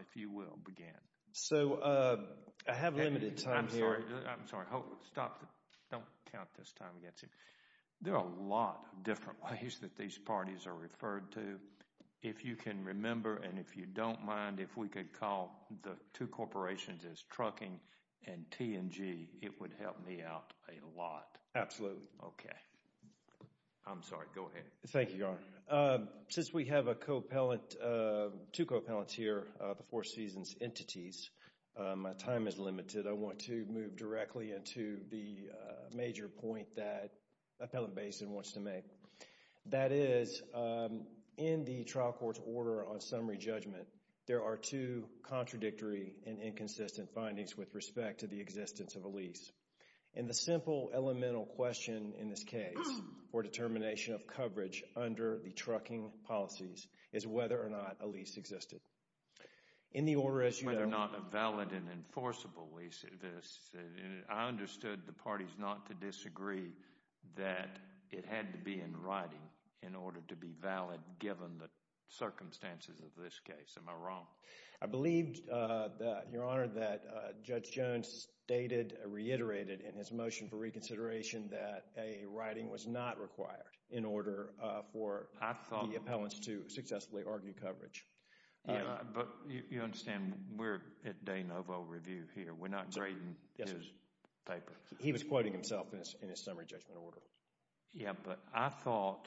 if you will, begin. So, I have limited time here. I'm sorry, I'm sorry, stop. Don't count this time against you. There are a lot of different ways that these parties are referred to. If you can remember and if you don't mind, if we could call the two corporations as Trucking and T&G, it would help me out a lot. Absolutely. Okay. I'm sorry, go ahead. Thank you, Your Honor. Since we have a co-appellant, two co-appellants here, the Four Seasons entities, my time is limited. I want to move directly into the major point that Appellant Baisden wants to make. That is, in the trial court's order on summary judgment, there are two contradictory and inconsistent findings with respect to the existence of a lease. In the simple elemental question in this case for determination of coverage under the trucking policies is whether or not a lease existed. Whether or not a valid and enforceable lease exists, I understood the parties not to disagree that it had to be in writing in order to be valid given the circumstances of this case. Am I wrong? I believe that, Your Honor, that Judge Jones stated, reiterated in his motion for reconsideration that a writing was not required in order for the appellants to successfully argue coverage. But you understand we're at De Novo Review here. We're not grading his paper. He was quoting himself in his summary judgment order. Yeah, but I thought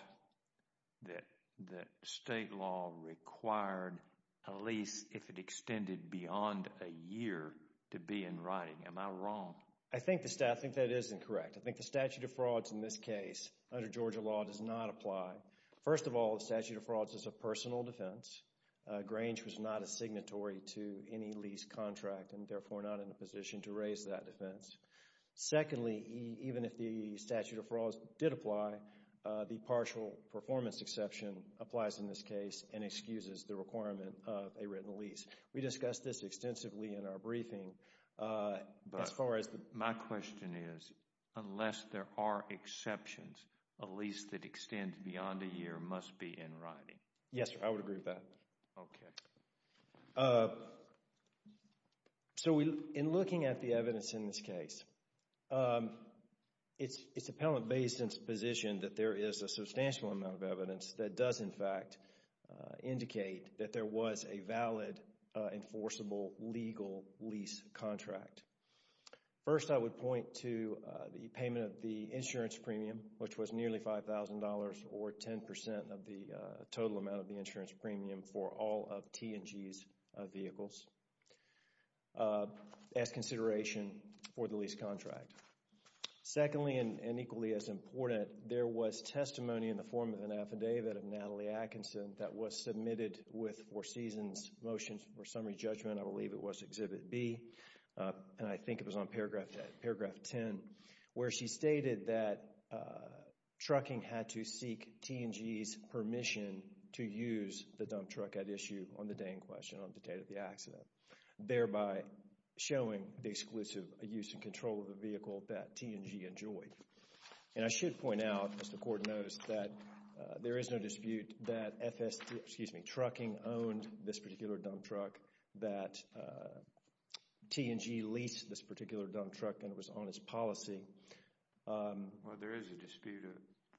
that state law required a lease if it extended beyond a year to be in writing. Am I wrong? I think that is incorrect. I think the statute of frauds in this case under Georgia law does not apply. First of all, the statute of frauds is a personal defense. Grange was not a signatory to any lease contract and therefore not in a position to raise that defense. Secondly, even if the statute of frauds did apply, the partial performance exception applies in this case and excuses the requirement of a written lease. We discussed this extensively in our briefing. But my question is, unless there are exceptions, a lease that extends beyond a year must be in writing. Yes, sir. I would agree with that. Okay. So, in looking at the evidence in this case, it's appellant based in its position that there is a substantial amount of evidence that does in fact indicate that there was a valid enforceable legal lease contract. First, I would point to the payment of the insurance premium, which was nearly $5,000 or 10% of the total amount of the insurance premium for all of T&G's vehicles as consideration for the lease contract. Secondly, and equally as important, there was testimony in the form of an affidavit of Natalie Atkinson that was submitted with Exhibit B, and I think it was on paragraph 10, where she stated that trucking had to seek T&G's permission to use the dump truck at issue on the day in question, on the day of the accident, thereby showing the exclusive use and control of the vehicle that T&G enjoyed. And I should point out, as the court knows, that there is no dispute that FST, excuse me, that T&G leased this particular dump truck and it was on its policy. Well, there is a dispute of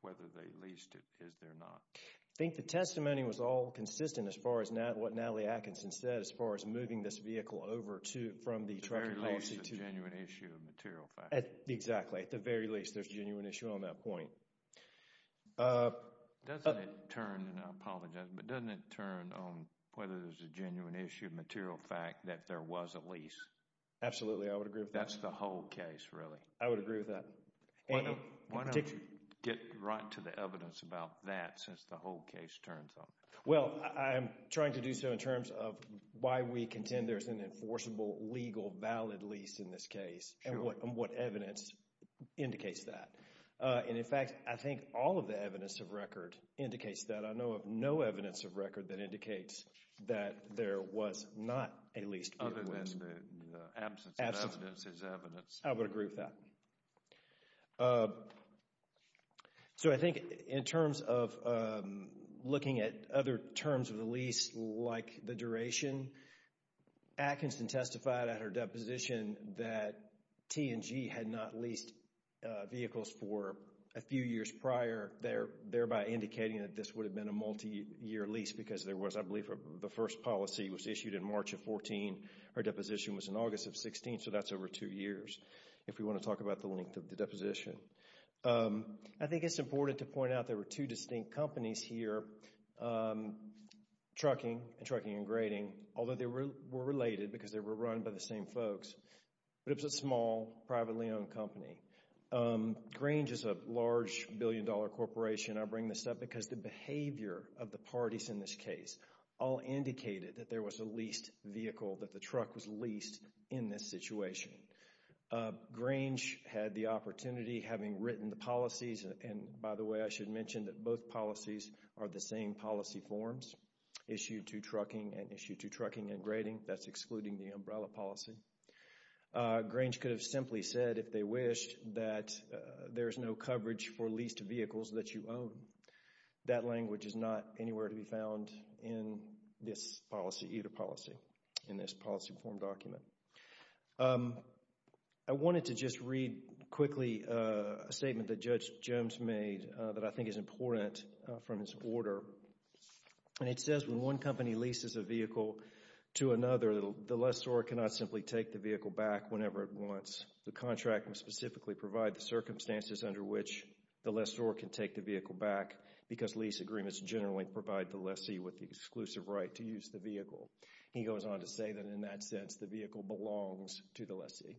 whether they leased it, is there not? I think the testimony was all consistent as far as what Natalie Atkinson said, as far as moving this vehicle over to, from the trucking policy to... At the very least, there's a genuine issue of material facts. Exactly. At the very least, there's a genuine issue on that point. Doesn't it turn, and I apologize, but doesn't it turn on whether there's a genuine issue of material fact that there was a lease? Absolutely, I would agree with that. That's the whole case, really? I would agree with that. Why don't we get right to the evidence about that, since the whole case turns on it? Well, I'm trying to do so in terms of why we contend there's an enforceable, legal, valid lease in this case, and what evidence indicates that. And in fact, I think all of the evidence of record indicates that. I know of no evidence of record that indicates that there was not a leased vehicle. Other than the absence of evidence is evidence. I would agree with that. So I think in terms of looking at other terms of the lease, like the duration, Atkinson testified at her deposition that T&G had not leased vehicles for a few years prior, thereby indicating that this would have been a multi-year lease because there was, I believe, the first policy was issued in March of 14. Her deposition was in August of 16, so that's over two years, if we want to talk about the length of the deposition. I think it's important to point out there were two distinct companies here, trucking and trucking and grading, although they were related because they were run by the same folks. But it was a small, privately owned company. Grange is a large, billion-dollar corporation. I bring this up because the behavior of the parties in this case all indicated that there was a leased vehicle, that the truck was leased in this situation. Grange had the opportunity, having written the policies, and by the way, I should mention that both policies are the same policy forms, issue to trucking and issue to trucking and grading. That's excluding the umbrella policy. Grange could have simply said, if they wish, that there's no coverage for leased vehicles that you own. That language is not anywhere to be found in this policy, either policy, in this policy form document. I wanted to just read quickly a statement that Judge Gems made that I think is important from his order. And it says, when one company leases a vehicle to another, the lessor cannot simply take the vehicle back whenever it wants. The contract would specifically provide the circumstances under which the lessor can take the vehicle back because lease agreements generally provide the lessee with the exclusive right to use the vehicle. He goes on to say that in that sense, the vehicle belongs to the lessee.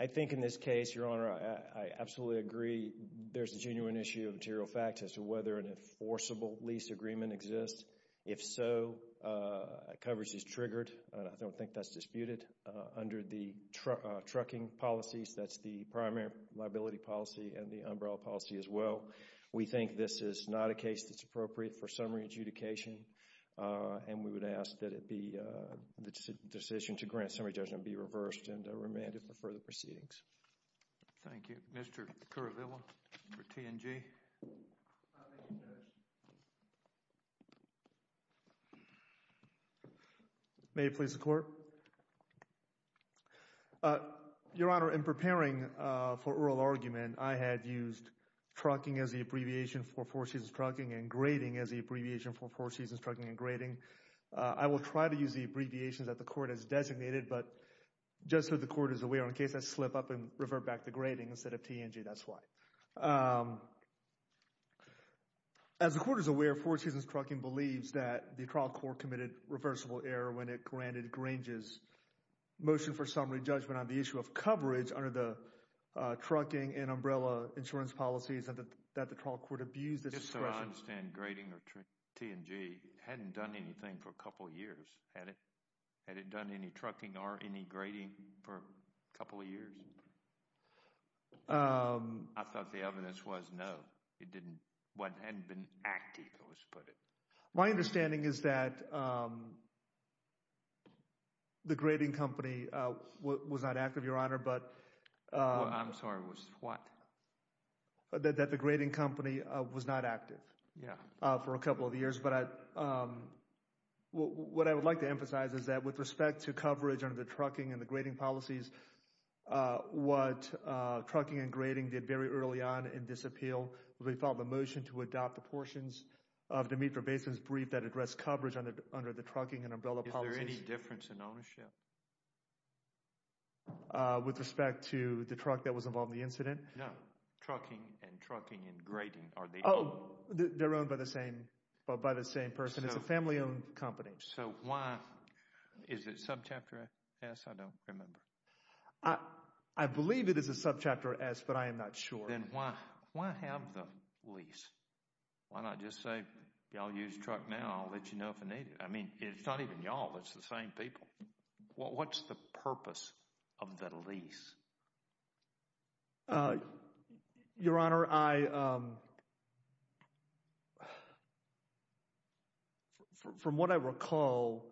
I think in this case, Your Honor, I absolutely agree. There's a genuine issue of material facts as to whether an enforceable lease agreement exists. If so, coverage is triggered. I don't think that's disputed. Under the trucking policies, that's the primary liability policy and the umbrella policy as well. We think this is not a case that's appropriate for summary adjudication. And we would ask that the decision to grant summary judgment be reversed and remanded for further proceedings. Thank you. Mr. Currivilla for T&G. May it please the Court. Your Honor, in preparing for oral argument, I had used trucking as the abbreviation for four seasons trucking and grading as the abbreviation for four seasons trucking and grading. I will try to use the abbreviations that the Court has designated, but just so the Court is aware, in case I slip up and revert back to grading instead of T&G, that's why. As the Court is aware, four seasons trucking believes that the trial court committed reversible error when it granted Grange's motion for summary judgment on the issue of coverage under the trucking and umbrella insurance policies that the trial court abused. Just so I understand, grading or T&G hadn't done anything for a couple of years, had it? Had it done any trucking or any grading for a couple of years? I thought the evidence was no. It didn't, hadn't been active, let's put it. My understanding is that the grading company was not active, Your Honor, but... I'm sorry, was what? That the grading company was not active. Yeah. For a couple of years, but what I would like to emphasize is that with respect to coverage under the trucking and the grading policies, what trucking and grading did very early on in this appeal, we filed a motion to adopt the portions of Demetra Basin's brief that addressed coverage under the trucking and umbrella policies. Is there any difference in ownership? With respect to the truck that was involved in the incident? No. Trucking and trucking and grading, are they... Oh, they're owned by the same person. It's a family-owned company. So why, is it subchapter S? I don't remember. I believe it is a subchapter S, but I am not sure. Then why have the lease? Why not just say, y'all use truck now, I'll let you know if I need it. I mean, it's not even y'all, it's the same people. What's the purpose of the lease? Your Honor, from what I recall,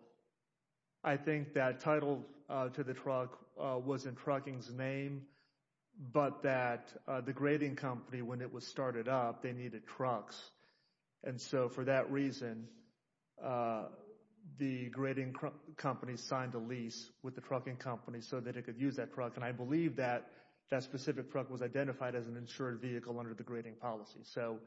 I think that title to the truck was in trucking's name, but that the grading company, when it was started up, they needed trucks. And so for that reason, the grading company signed a lease with the trucking company so that it could use that truck. And I believe that that specific truck was identified as an insured vehicle under the grading policy. So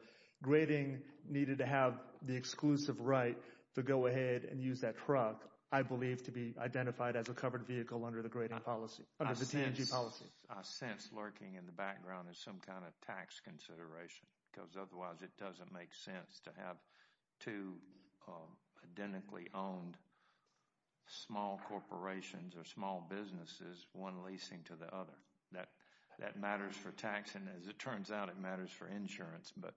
grading needed to have the exclusive right to go ahead and use that truck, I believe, to be identified as a covered vehicle under the grading policy, under the TNG policy. I sense lurking in the background is some kind of tax consideration, because otherwise it doesn't make sense to have two identically owned small corporations or small businesses, one leasing to the other. That matters for tax, and as it turns out, it matters for insurance, but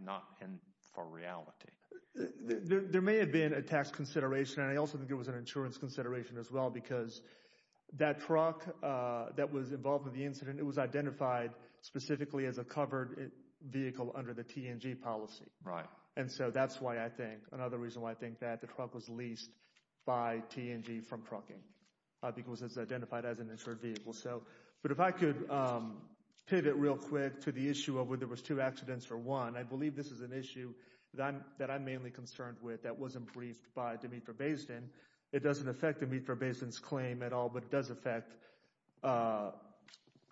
not for reality. There may have been a tax consideration, and I also think it was an insurance consideration as well, because that truck that was involved in the incident, it was identified specifically as a covered vehicle under the TNG policy. Right. And so that's why I think, another reason why I think that the truck was leased by TNG from trucking, because it's identified as an insured vehicle. But if I could pivot real quick to the issue of whether it was two accidents or one, I believe this is an issue that I'm mainly concerned with that wasn't briefed by Demetre Bayston. It doesn't affect Demetre Bayston's claim at all, but it does affect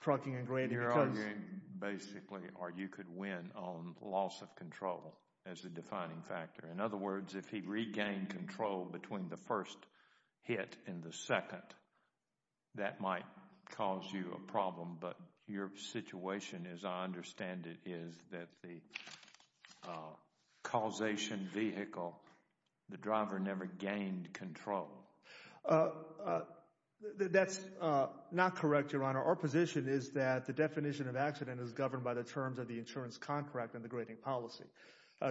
trucking and grading. You're arguing basically, or you could win on loss of control as a defining factor. In other words, if he regained control between the first hit and the second, that might cause you a problem. But your situation, as I understand it, is that the causation vehicle, the driver never gained control. That's not correct, Your Honor. Our position is that the definition of accident is governed by the terms of the insurance contract and the grading policy.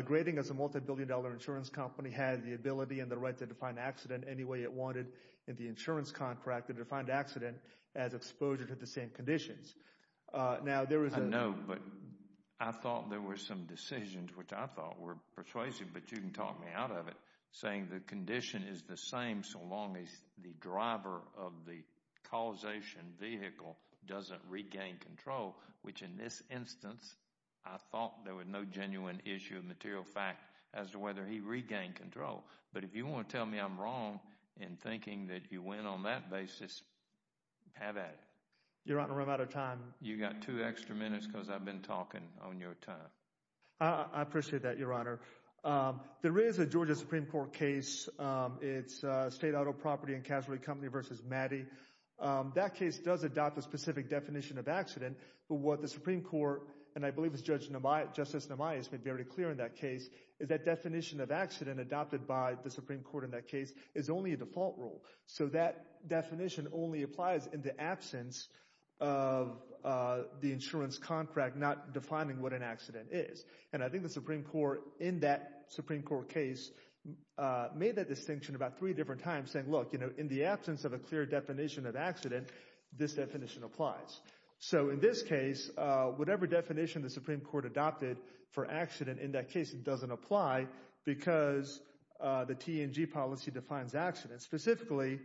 Grading, as a multi-billion dollar insurance company, had the ability and the right to define accident any way it wanted in the insurance contract and to define accident as exposure to the same conditions. Now, there is a— I know, but I thought there were some decisions which I thought were persuasive, but you can talk me out of it, saying the condition is the same so long as the driver of the causation vehicle doesn't regain control, which in this instance, I thought there was no genuine issue of material fact as to whether he regained control. But if you want to tell me I'm wrong in thinking that you went on that basis, have at it. Your Honor, I'm out of time. You've got two extra minutes because I've been talking on your time. I appreciate that, Your Honor. There is a Georgia Supreme Court case. It's State Auto Property and Casualty Company v. Maddy. That case does adopt a specific definition of accident, but what the Supreme Court, and I believe it's Justice Nemias, made very clear in that case, is that definition of accident adopted by the Supreme Court in that case is only a default rule. So that definition only applies in the absence of the insurance contract not defining what an accident is. And I think the Supreme Court in that Supreme Court case made that distinction about three different times, saying, look, you know, in the absence of a clear definition of accident, this definition applies. So in this case, whatever definition the Supreme Court adopted for accident in that case, it doesn't apply because the TNG policy defines accidents. Specifically,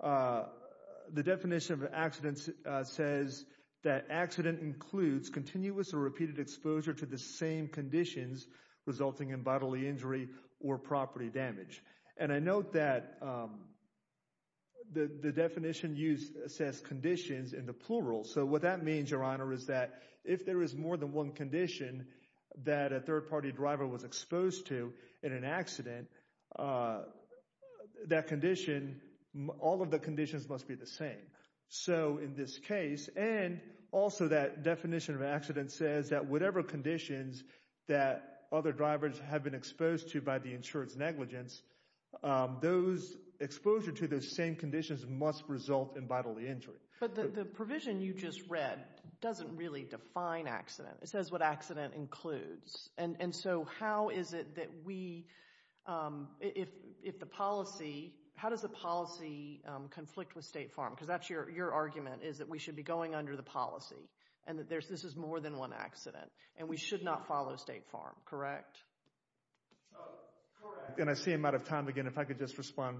the definition of accidents says that accident includes continuous or repeated exposure to the same conditions resulting in bodily injury or property damage. And I note that the definition used says conditions in the plural. So what that means, Your Honor, is that if there is more than one condition that a third-party driver was exposed to in an accident, that condition, all of the conditions must be the same. So in this case, and also that definition of accident says that whatever conditions that other drivers have been exposed to by the insurance negligence, those exposure to those same conditions must result in bodily injury. But the provision you just read doesn't really define accident. It says what accident includes. And so how is it that we, if the policy, how does the policy conflict with State Farm? Because that's your argument, is that we should be going under the policy and that this is more than one accident and we should not follow State Farm, correct? Oh, correct. And I see I'm out of time again. If I could just respond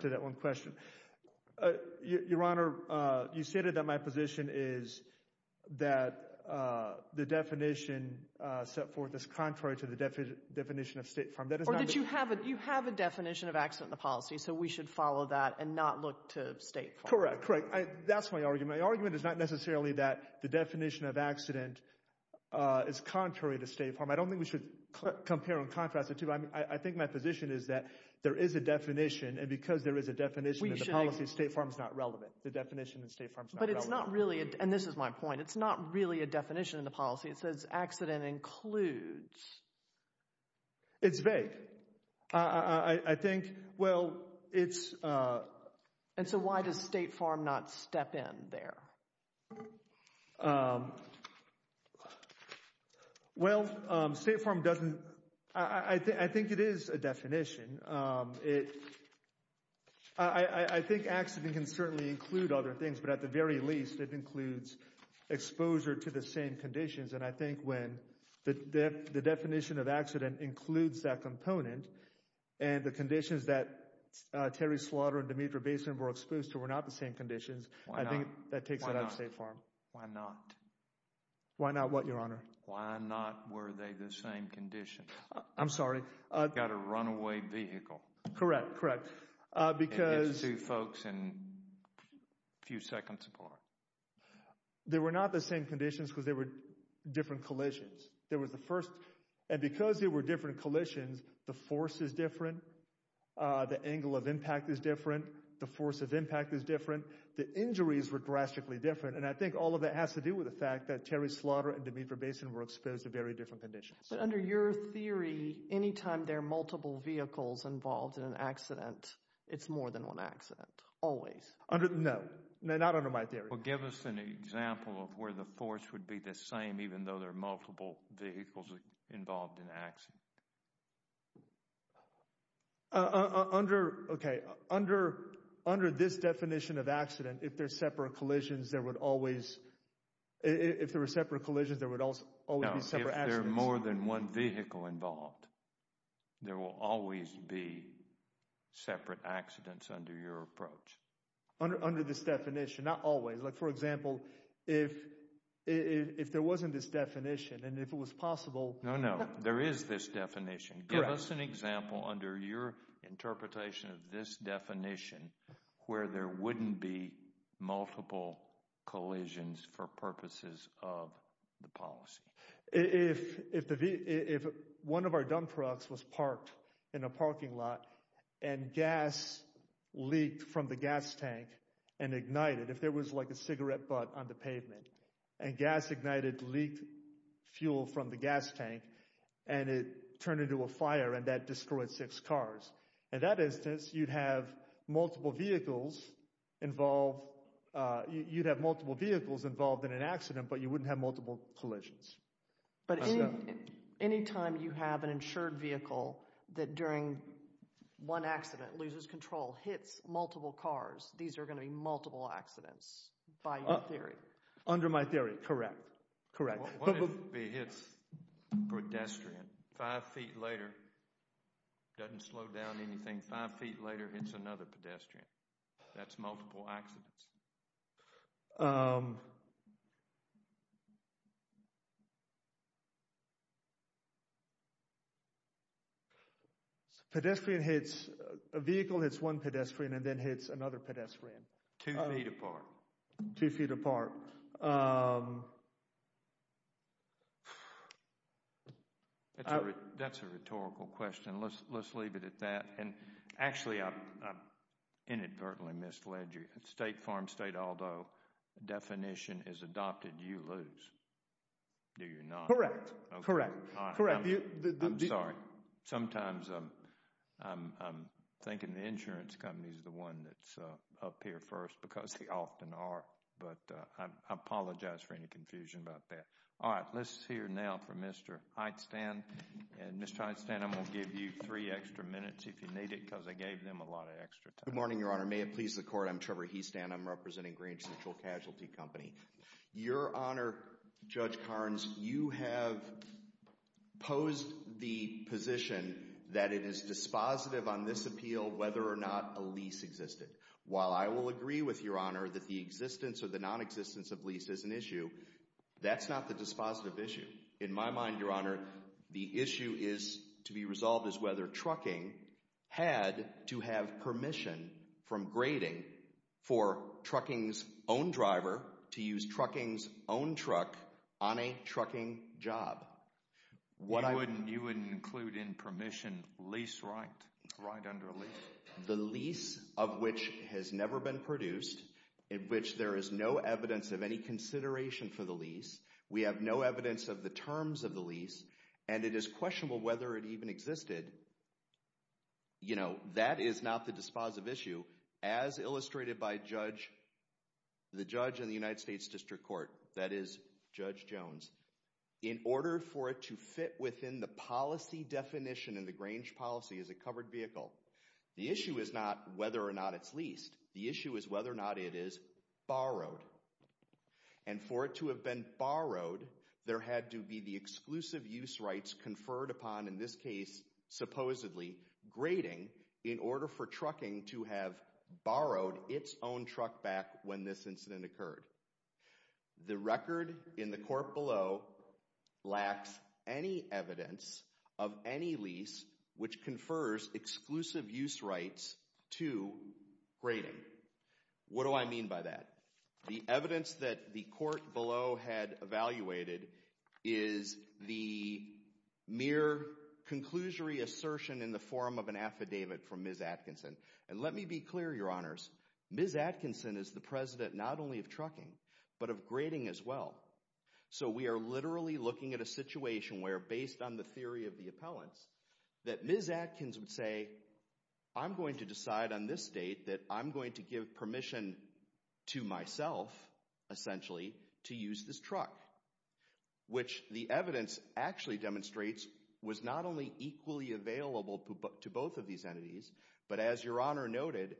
to that one question. Your Honor, you stated that my position is that the definition set forth is contrary to the definition of State Farm. Or that you have a definition of accident in the policy, so we should follow that and not look to State Farm. Correct, correct. That's my argument. My argument is not necessarily that the definition of accident is contrary to State Farm. I don't think we should compare and contrast the two. I think my position is that there is a definition, and because there is a definition in the policy, State Farm is not relevant. The definition in State Farm is not relevant. But it's not really, and this is my point, it's not really a definition in the policy. It says accident includes. It's vague. I think, well, it's... And so why does State Farm not step in there? Well, State Farm doesn't, I think it is a definition. I think accident can certainly include other things, but at the very least, it includes exposure to the same conditions. And I think when the definition of accident includes that component, and the conditions that Terry Slaughter and Demetra Basin were exposed to were not the same conditions, I think that takes it out of State Farm. Why not? Why not what, Your Honor? Why not were they the same conditions? I'm sorry? Got a runaway vehicle. Correct, correct. Because... Two folks and a few seconds apart. They were not the same conditions because there were different collisions. There was the first... And because there were different collisions, the force is different. The angle of impact is different. The force of impact is different. The injuries were drastically different. And I think all of that has to do with the fact that Terry Slaughter and Demetra Basin were exposed to very different conditions. But under your theory, anytime there are multiple vehicles involved in an accident, it's more than one accident. Always. Under, no. No, not under my theory. Well, give us an example of where the force would be the same even though there are multiple vehicles involved in an accident. Under, okay, under this definition of accident, if there's separate collisions, there would always... If there were separate collisions, there would always be separate accidents. If there are more than one vehicle involved, there will always be separate accidents under your approach. Under this definition, not always. For example, if there wasn't this definition and if it was possible... No, no. There is this definition. Give us an example under your interpretation of this definition where there wouldn't be multiple collisions for purposes of the policy. If one of our dump trucks was parked in a parking lot and gas leaked from the gas tank and ignited, if there was like a cigarette butt on the pavement and gas ignited, leaked fuel from the gas tank and it turned into a fire and that destroyed six cars. In that instance, you'd have multiple vehicles involved... You'd have multiple vehicles involved in an accident, but you wouldn't have multiple collisions. But any time you have an insured vehicle that during one accident loses control, hits multiple cars, these are going to be multiple accidents by your theory. Under my theory. Correct. Correct. What if it hits a pedestrian five feet later, doesn't slow down anything, five feet later, hits another pedestrian? That's multiple accidents. Pedestrian hits... A vehicle hits one pedestrian and then hits another pedestrian. Two feet apart. Two feet apart. That's a rhetorical question. Let's leave it at that. And actually, I inadvertently misled you. State Farm, State Aldo, definition is adopted. You lose. Do you not? Correct. Correct. I'm sorry. Sometimes I'm thinking the insurance company is the one that's up here first because they often are. But I apologize for any confusion about that. All right. Let's hear now from Mr. Heitstan. And Mr. Heitstan, I'm going to give you three extra minutes if you need it because I gave them a lot of extra time. Good morning, Your Honor. May it please the court. I'm Trevor Heistan. I'm representing Green Central Casualty Company. Your Honor, Judge Carnes, you have posed the position that it is dispositive on this appeal whether or not a lease existed. While I will agree with Your Honor that the existence or the non-existence of lease is an issue, that's not the dispositive issue. In my mind, Your Honor, the issue is to be resolved as whether trucking had to have permission from grading for trucking's own driver to use trucking's own truck on a trucking job. You wouldn't include in permission lease right under a lease? The lease of which has never been produced, in which there is no evidence of any consideration for the lease. We have no evidence of the terms of the lease. And it is questionable whether it even existed. You know, that is not the dispositive issue. As illustrated by the judge in the United States District Court, that is Judge Jones, in order for it to fit within the policy definition and the Grange policy as a covered vehicle, the issue is not whether or not it's leased. The issue is whether or not it is borrowed. And for it to have been borrowed, there had to be the exclusive use rights conferred upon, in this case, supposedly, grading in order for trucking to have borrowed its own truck back when this incident occurred. The record in the court below lacks any evidence of any lease which confers exclusive use rights to grading. What do I mean by that? The evidence that the court below had evaluated is the mere conclusory assertion in the form of an affidavit from Ms. Atkinson. And let me be clear, Your Honors, Ms. Atkinson is the president not only of trucking, but of grading as well. So we are literally looking at a situation where based on the theory of the appellants, that Ms. Atkins would say, I'm going to decide on this date that I'm going to give permission to myself, essentially, to use this truck. Which the evidence actually demonstrates was not only equally available to both of these entities, but as Your Honor noted,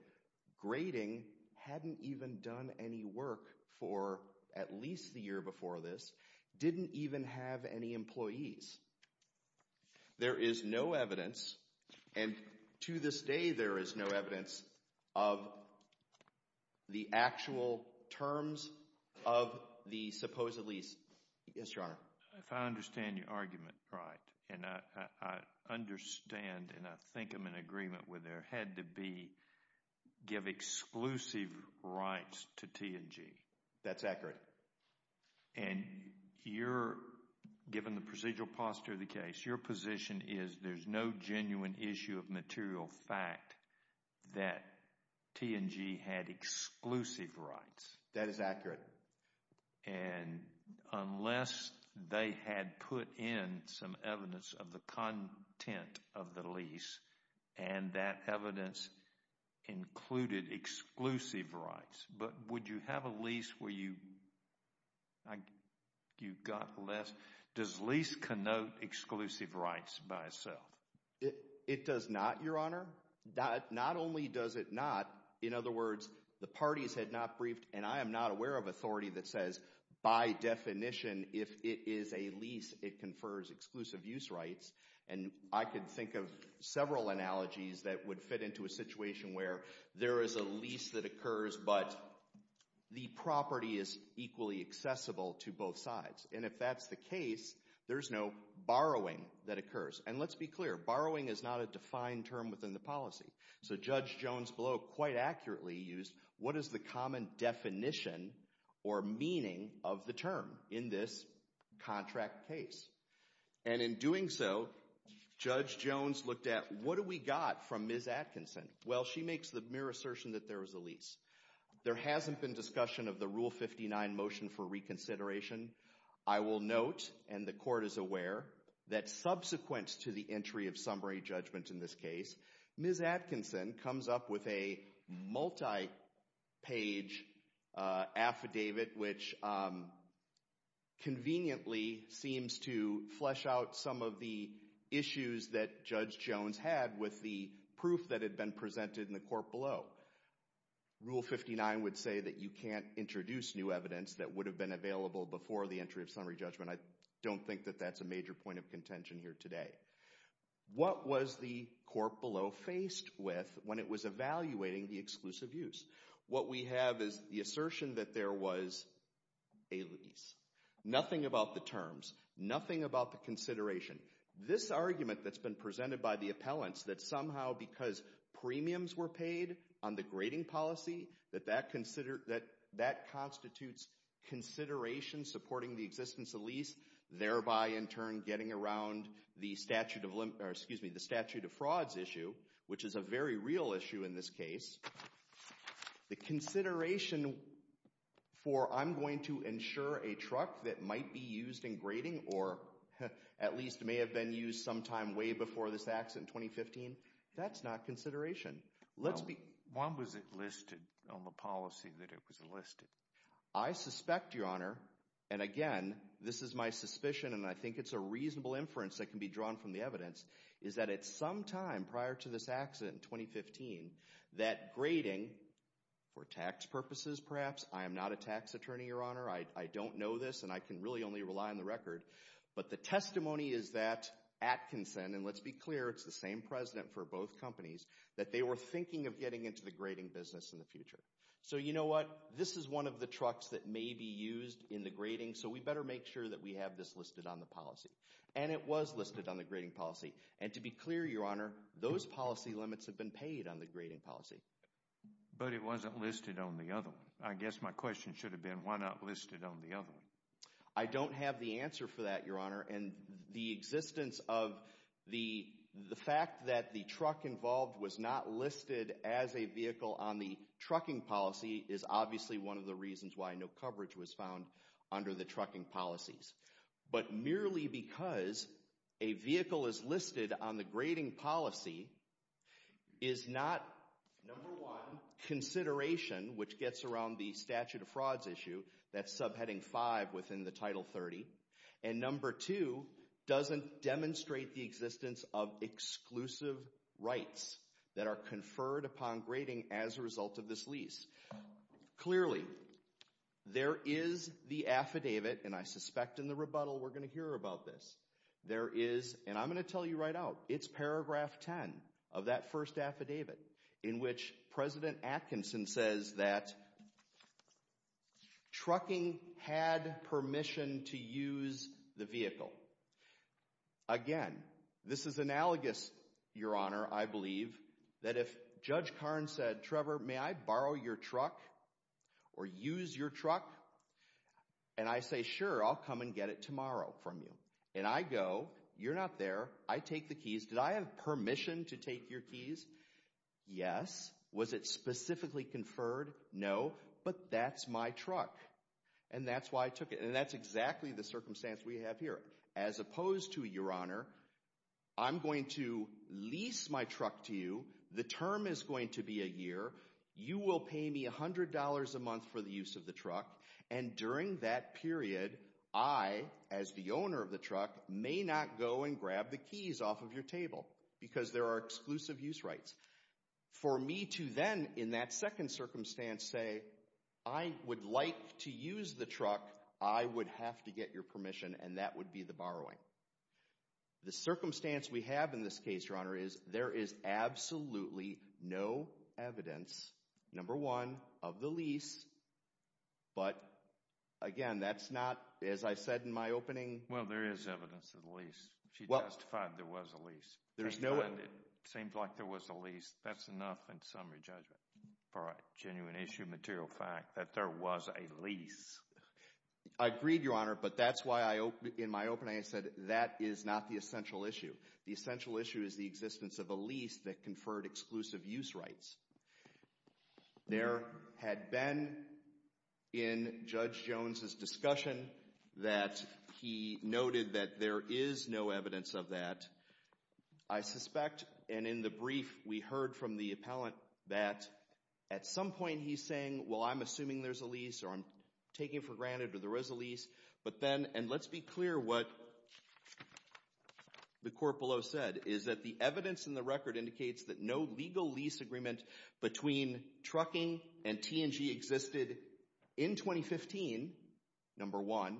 grading hadn't even done any work for at least the year before this, didn't even have any employees. There is no evidence, and to this day there is no evidence of the actual terms of the supposedly... Yes, Your Honor. If I understand your argument right, and I understand and I think I'm in agreement with there, had to be, give exclusive rights to T&G. That's accurate. And you're, given the procedural posture of the case, your position is there's no genuine issue of material fact that T&G had exclusive rights. That is accurate. And unless they had put in some evidence of the content of the lease and that evidence included exclusive rights, but would you have a lease where you got less? Does lease connote exclusive rights by itself? It does not, Your Honor. Not only does it not, in other words, the parties had not briefed, and I am not aware of authority that says, by definition, if it is a lease, it confers exclusive use rights. And I could think of several analogies that would fit into a situation where there is a lease that occurs, but the property is equally accessible to both sides. And if that's the case, there's no borrowing that occurs. And let's be clear, borrowing is not a defined term within the policy. So Judge Jones, below, quite accurately used, what is the common definition or meaning of the term in this contract case? And in doing so, Judge Jones looked at, what do we got from Ms. Atkinson? Well, she makes the mere assertion that there was a lease. There hasn't been discussion of the Rule 59 motion for reconsideration. I will note, and the court is aware, that subsequent to the entry of summary judgment in this case, Ms. Atkinson comes up with a multi-page affidavit, which conveniently seems to flesh out some of the issues that Judge Jones had with the proof that had been presented in the court below. Rule 59 would say that you can't introduce new evidence that would have been available before the entry of summary judgment. I don't think that that's a major point of contention here today. What was the court below faced with when it was evaluating the exclusive use? What we have is the assertion that there was a lease. Nothing about the terms. Nothing about the consideration. This argument that's been presented by the appellants, that somehow because premiums were paid on the grading policy, that that constitutes consideration supporting the existence of lease, thereby in turn getting around the statute of limits, or excuse me, the statute of frauds issue, which is a very real issue in this case. The consideration for, I'm going to insure a truck that might be used in grading, or at least may have been used sometime way before this act in 2015, that's not consideration. When was it listed on the policy that it was listed? I suspect, Your Honor, and again, this is my suspicion, and I think it's a reasonable inference that can be drawn from the evidence, is that at some time prior to this accident in 2015, that grading, for tax purposes perhaps, I am not a tax attorney, Your Honor, I don't know this, and I can really only rely on the record, but the testimony is that Atkinson, and let's be clear, it's the same president for both companies, that they were thinking of getting into the grading business in the future. So you know what? This is one of the trucks that may be used in the grading, so we better make sure that we have this listed on the policy, and it was listed on the grading policy, and to be clear, Your Honor, those policy limits have been paid on the grading policy. But it wasn't listed on the other one. I guess my question should have been, why not list it on the other one? I don't have the answer for that, Your Honor, and the existence of the fact that the truck involved was not listed as a vehicle on the trucking policy is obviously one of the reasons why no coverage was found under the trucking policies. But merely because a vehicle is listed on the grading policy is not, number one, consideration, which gets around the statute of frauds issue, that subheading five within the Title 30, and number two, doesn't demonstrate the existence of exclusive rights that are conferred upon grading as a result of this lease. Clearly, there is the affidavit, and I suspect in the rebuttal we're going to hear about this. There is, and I'm going to tell you right out, it's paragraph 10 of that first affidavit in which President Atkinson says that trucking had permission to use the vehicle. Again, this is analogous, Your Honor, I believe, that if Judge Karn said, Trevor, may I borrow your truck or use your truck? And I say, sure, I'll come and get it tomorrow from you. And I go, you're not there. I take the keys. Did I have permission to take your keys? Yes. Was it specifically conferred? No, but that's my truck. And that's why I took it. And that's exactly the circumstance we have here. As opposed to, Your Honor, I'm going to lease my truck to you. The term is going to be a year. You will pay me $100 a month for the use of the truck. And during that period, I, as the owner of the truck, may not go and grab the keys off of your table because there are exclusive use rights. For me to then, in that second circumstance, say, I would like to use the truck, and that would be the borrowing. The circumstance we have in this case, Your Honor, there is absolutely no evidence, number one, of the lease. But, again, that's not, as I said in my opening. Well, there is evidence of the lease. She testified there was a lease. There's no end. It seems like there was a lease. That's enough in summary judgment for a genuine issue material fact that there was a lease. I agreed, Your Honor, but that's why in my opening, I said that is not the essential issue. The essential issue is the existence of a lease that conferred exclusive use rights. There had been in Judge Jones' discussion that he noted that there is no evidence of that. I suspect, and in the brief, we heard from the appellant that at some point he's saying, well, I'm assuming there's a lease or I'm taking for granted that there is a lease. But then, and let's be clear what the court below said is that the evidence in the record indicates that no legal lease agreement between trucking and T&G existed in 2015, number one,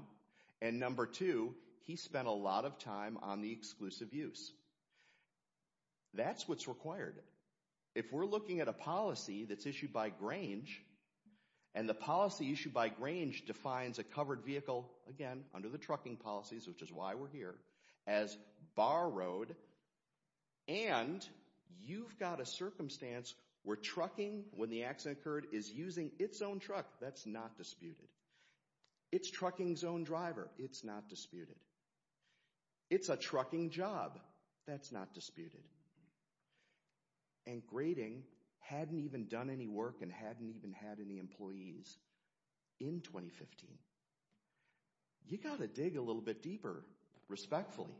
and number two, he spent a lot of time on the exclusive use. That's what's required. If we're looking at a policy that's issued by Grange and the policy issued by Grange defines a covered vehicle, again, under the trucking policies, which is why we're here, as borrowed. And you've got a circumstance where trucking, when the accident occurred, is using its own truck. That's not disputed. It's trucking's own driver. It's not disputed. It's a trucking job. That's not disputed. And Grading hadn't even done any work and hadn't even had any employees in 2015. You've got to dig a little bit deeper, respectfully.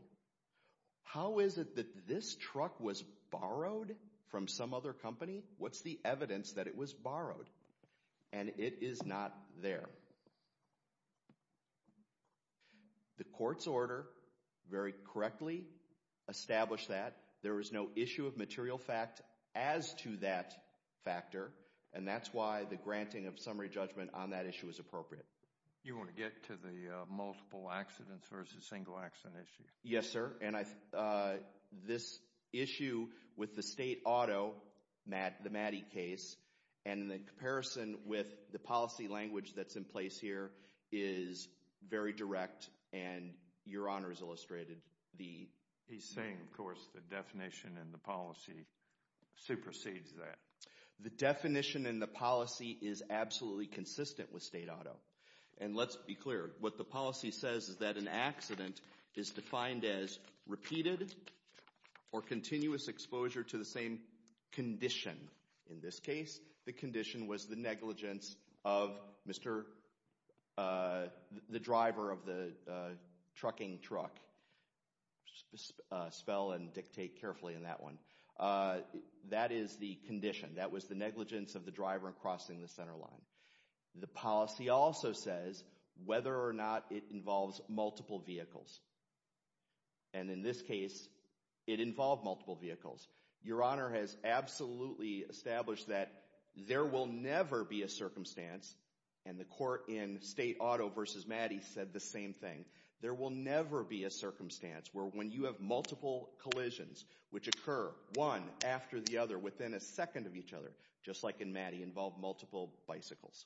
How is it that this truck was borrowed from some other company? What's the evidence that it was borrowed? And it is not there. The court's order, very correctly, established that. There was no issue of material fact as to that factor, and that's why the granting of summary judgment on that issue is appropriate. You want to get to the multiple accidents versus single accident issue? Yes, sir. And this issue with the state auto, the Maddie case, and the comparison with the policy language that's in place here is very direct. And your honor has illustrated the... He's saying, of course, the definition and the policy supersedes that. The definition and the policy is absolutely consistent with state auto. And let's be clear, what the policy says is that an accident is defined as repeated or continuous exposure to the same condition. In this case, the condition was the negligence of the driver of the trucking truck. Spell and dictate carefully in that one. That is the condition. That was the negligence of the driver crossing the center line. The policy also says whether or not it involves multiple vehicles. And in this case, it involved multiple vehicles. Your honor has absolutely established that there will never be a circumstance. And the court in state auto versus Maddie said the same thing. There will never be a circumstance where when you have multiple collisions, which occur one after the other within a second of each other, just like in Maddie, involve multiple bicycles.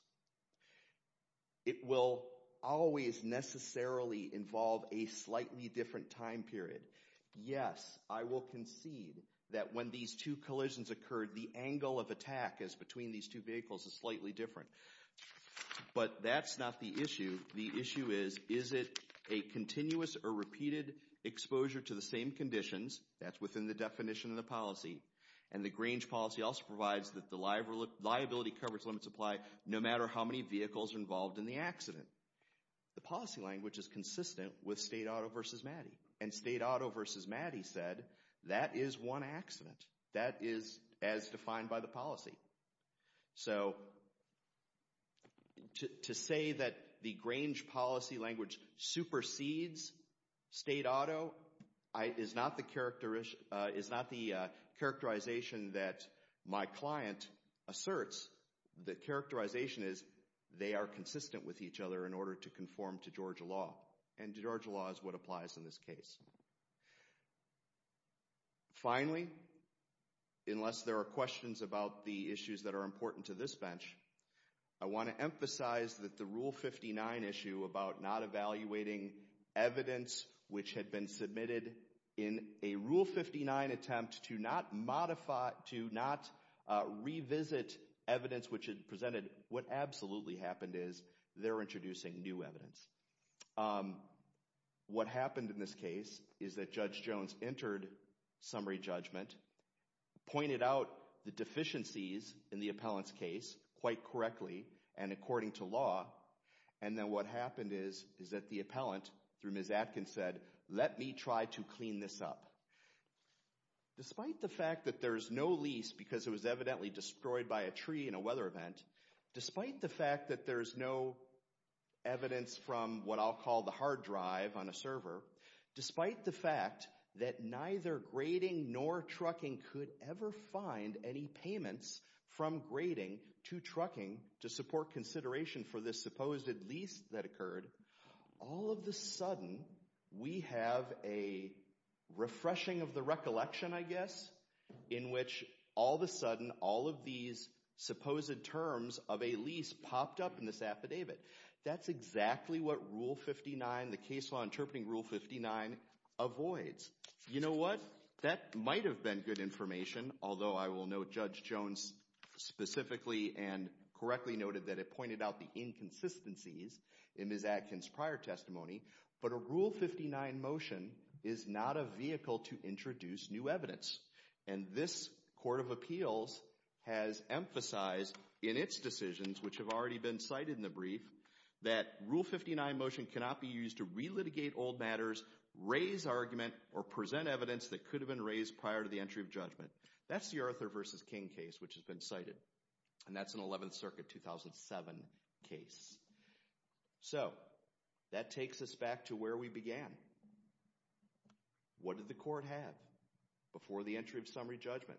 It will always necessarily involve a slightly different time period. Yes, I will concede that when these two collisions occurred, the angle of attack is between these two vehicles is slightly different. But that's not the issue. The issue is, is it a continuous or repeated exposure to the same conditions? That's within the definition of the policy. And the Grange policy also provides that the liability coverage limits apply no matter how many vehicles are involved in the accident. The policy language is consistent with state auto versus Maddie. And state auto versus Maddie said that is one accident. That is as defined by the policy. So to say that the Grange policy language supersedes state auto is not the characterization that my client asserts. The characterization is they are consistent with each other in order to conform to Georgia law. And Georgia law is what applies in this case. Finally, unless there are questions about the issues that are important to this bench, I want to emphasize that the Rule 59 issue about not evaluating evidence which had been submitted in a Rule 59 attempt to not modify, to not revisit evidence which had presented what absolutely happened is they're introducing new evidence. What happened in this case is that Judge Jones entered summary judgment, pointed out the deficiencies in the appellant's case quite correctly and according to law. And then what happened is is that the appellant through Ms. Atkins said, let me try to clean this up. Despite the fact that there's no lease because it was evidently destroyed by a tree in a weather event, despite the fact that there's no evidence from what I'll call the hard drive on a server, despite the fact that neither grading nor trucking could ever find any payments from grading to trucking to support consideration for this supposed lease that occurred, all of the sudden we have a refreshing of the recollection, I guess, in which all of a sudden all of these supposed terms of a lease popped up in this affidavit. That's exactly what Rule 59, the case law interpreting Rule 59, avoids. You know what? That might have been good information, although I will note Judge Jones specifically and correctly noted that it pointed out the inconsistencies in Ms. Atkins' prior testimony, but a Rule 59 motion is not a vehicle to introduce new evidence. And this Court of Appeals has emphasized in its decisions, which have already been cited in the brief, that Rule 59 motion cannot be used to relitigate old matters, raise argument, or present evidence that could have been raised prior to the entry of judgment. That's the Arthur versus King case, which has been cited. And that's an 11th Circuit, 2007 case. So, that takes us back to where we began. What did the Court have before the entry of summary judgment?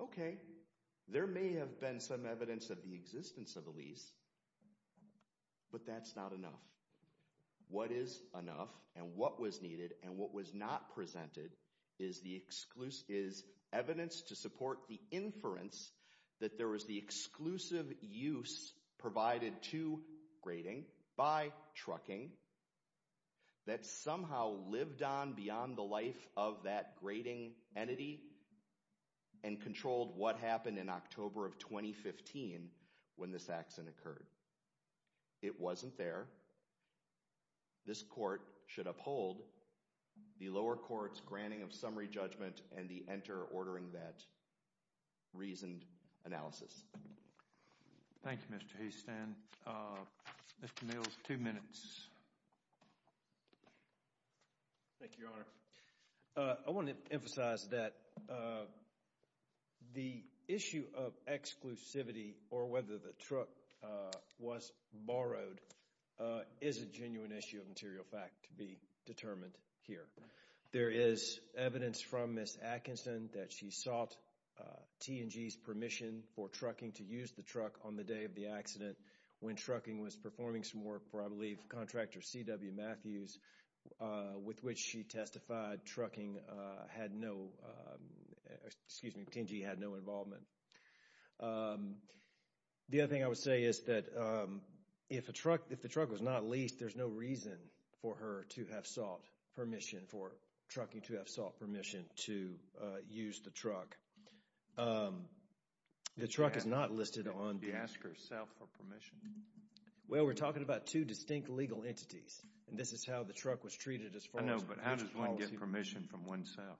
Okay, there may have been some evidence of the existence of a lease, but that's not enough. What is enough and what was needed and what was not presented is evidence to support the inference that there was the exclusive use provided to grading by trucking that somehow lived on beyond the life of that grading entity and controlled what happened in October of 2015 when this accident occurred. It wasn't there. the lower court's granting of summary judgment and the enter ordering that reasoned analysis. Thank you, Mr. Houston. Mr. Mills, two minutes. Thank you, Your Honor. I want to emphasize that the issue of exclusivity or whether the truck was borrowed is a genuine issue of material fact to be determined here. There is evidence from Ms. Atkinson that she sought T&G's permission for trucking to use the truck on the day of the accident when trucking was performing some work for, I believe, contractor C.W. Matthews with which she testified trucking had no, excuse me, T&G had no involvement. The other thing I would say is that if a truck, if the truck was not leased, there's no reason for her to have sought permission for trucking to have sought permission to use the truck. Um, the truck is not listed on Did she ask herself for permission? Well, we're talking about two distinct legal entities and this is how the truck was treated as far as I know, but how does one get permission from oneself?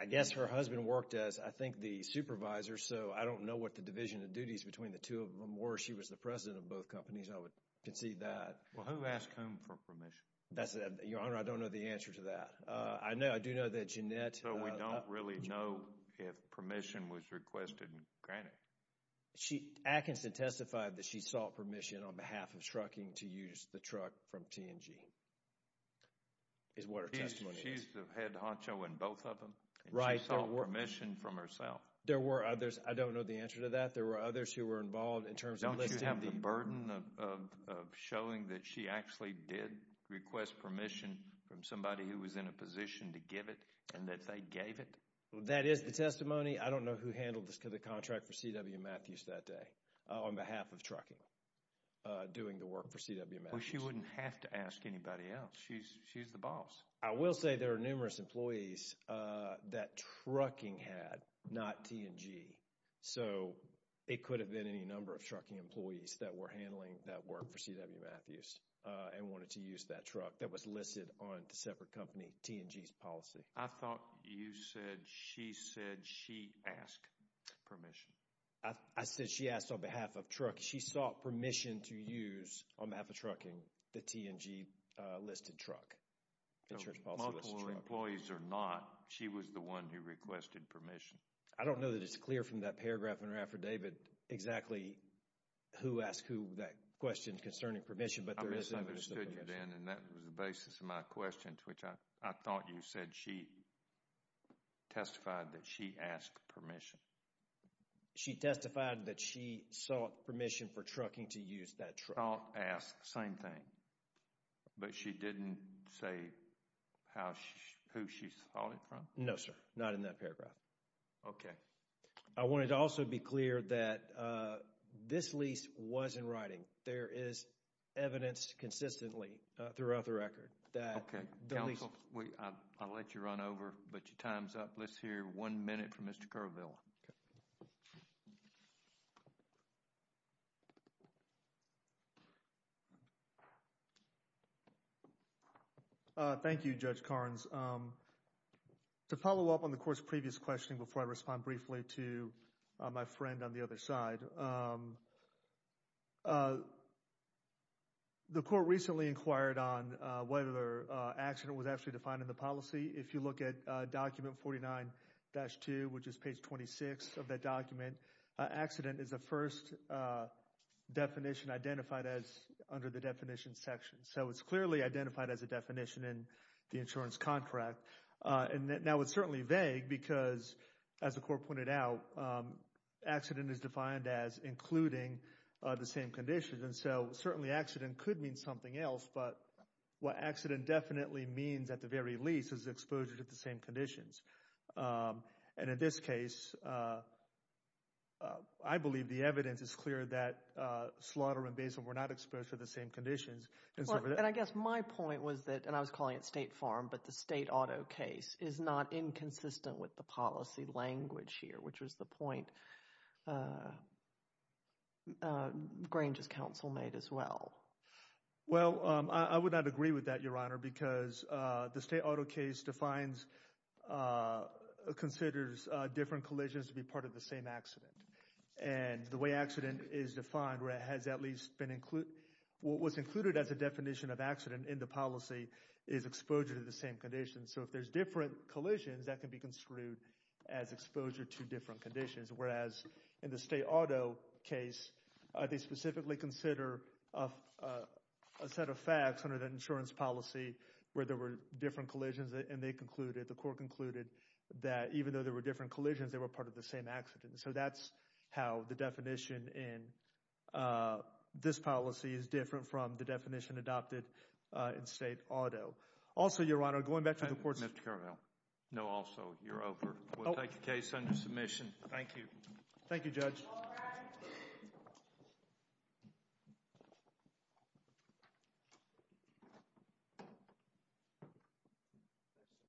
I guess her husband worked as, I think, the supervisor. So I don't know what the division of duties between the two of them were. She was the president of both companies. I would concede that. Well, who asked whom for permission? That's, Your Honor, I don't know the answer to that. I know, I do know that Jeanette So we don't really know if permission was requested. Granted. She, Atkinson testified that she sought permission on behalf of trucking to use the truck from TNG. Is what her testimony is. She's the head honcho in both of them. Right. She sought permission from herself. There were others. I don't know the answer to that. There were others who were involved in terms of listing. Don't you have the burden of showing that she actually did request permission from somebody who was in a position to give it and that they gave it? That is the testimony. I don't know who handled the contract for C.W. Matthews that day on behalf of trucking doing the work for C.W. Matthews. She wouldn't have to ask anybody else. She's, she's the boss. I will say there are numerous employees that trucking had not TNG. So it could have been any number of trucking employees that were handling that work for C.W. Matthews and wanted to use that truck that was listed on the separate company TNG's policy. I thought you said she said she asked permission. I said she asked on behalf of truck. She sought permission to use on behalf of trucking the TNG listed truck. The multiple employees are not. She was the one who requested permission. I don't know that it's clear from that paragraph in her affidavit exactly who asked who that question concerning permission. But there is a I misunderstood you Dan and that was the basis of my questions which I thought you said she testified that she asked permission. She testified that she sought permission for trucking to use that truck. Asked same thing. But she didn't say how who she thought it from. No, sir. Not in that paragraph. OK. I wanted to also be clear that this lease was in writing. There is evidence consistently throughout the record that. OK. I'll let you run over. But your time's up. Let's hear one minute from Mr. Kerrville. Thank you, Judge Karnes. To follow up on the court's previous question before I respond briefly to my friend on the other side. The court recently inquired on whether accident was actually defined in the policy. If you look at document 49-2 which is page 26 of that document. Accident is the first definition identified as under the definition section. So it's clearly identified as a definition in the insurance contract. And now it's certainly vague because as the court pointed out accident is defined as including the same conditions. And so certainly accident could mean something else. But what accident definitely means at the very least is exposure to the same conditions. And in this case I believe the evidence is clear that slaughter and basement were not exposed to the same conditions. And I guess my point was that and I was calling it State Farm but the state auto case is not inconsistent with the policy language here which was the point Grange's counsel made as well. Well I would not agree with that your honor because the state auto case considers different collisions to be part of the same accident. And the way accident is defined what was included as a definition of accident in the policy is exposure to the same conditions. So if there's different collisions that can be construed as exposure to different conditions. Whereas in the state auto case they specifically consider a set of facts under the insurance policy where there were different collisions and they concluded the court concluded that even though there were different collisions they were part of the same accident. So that's how the definition in this policy is different from the definition adopted in state auto. Also your honor going back to the court Mr. Caramello no also you're over. We'll take the case under submission. Thank you. Thank you judge.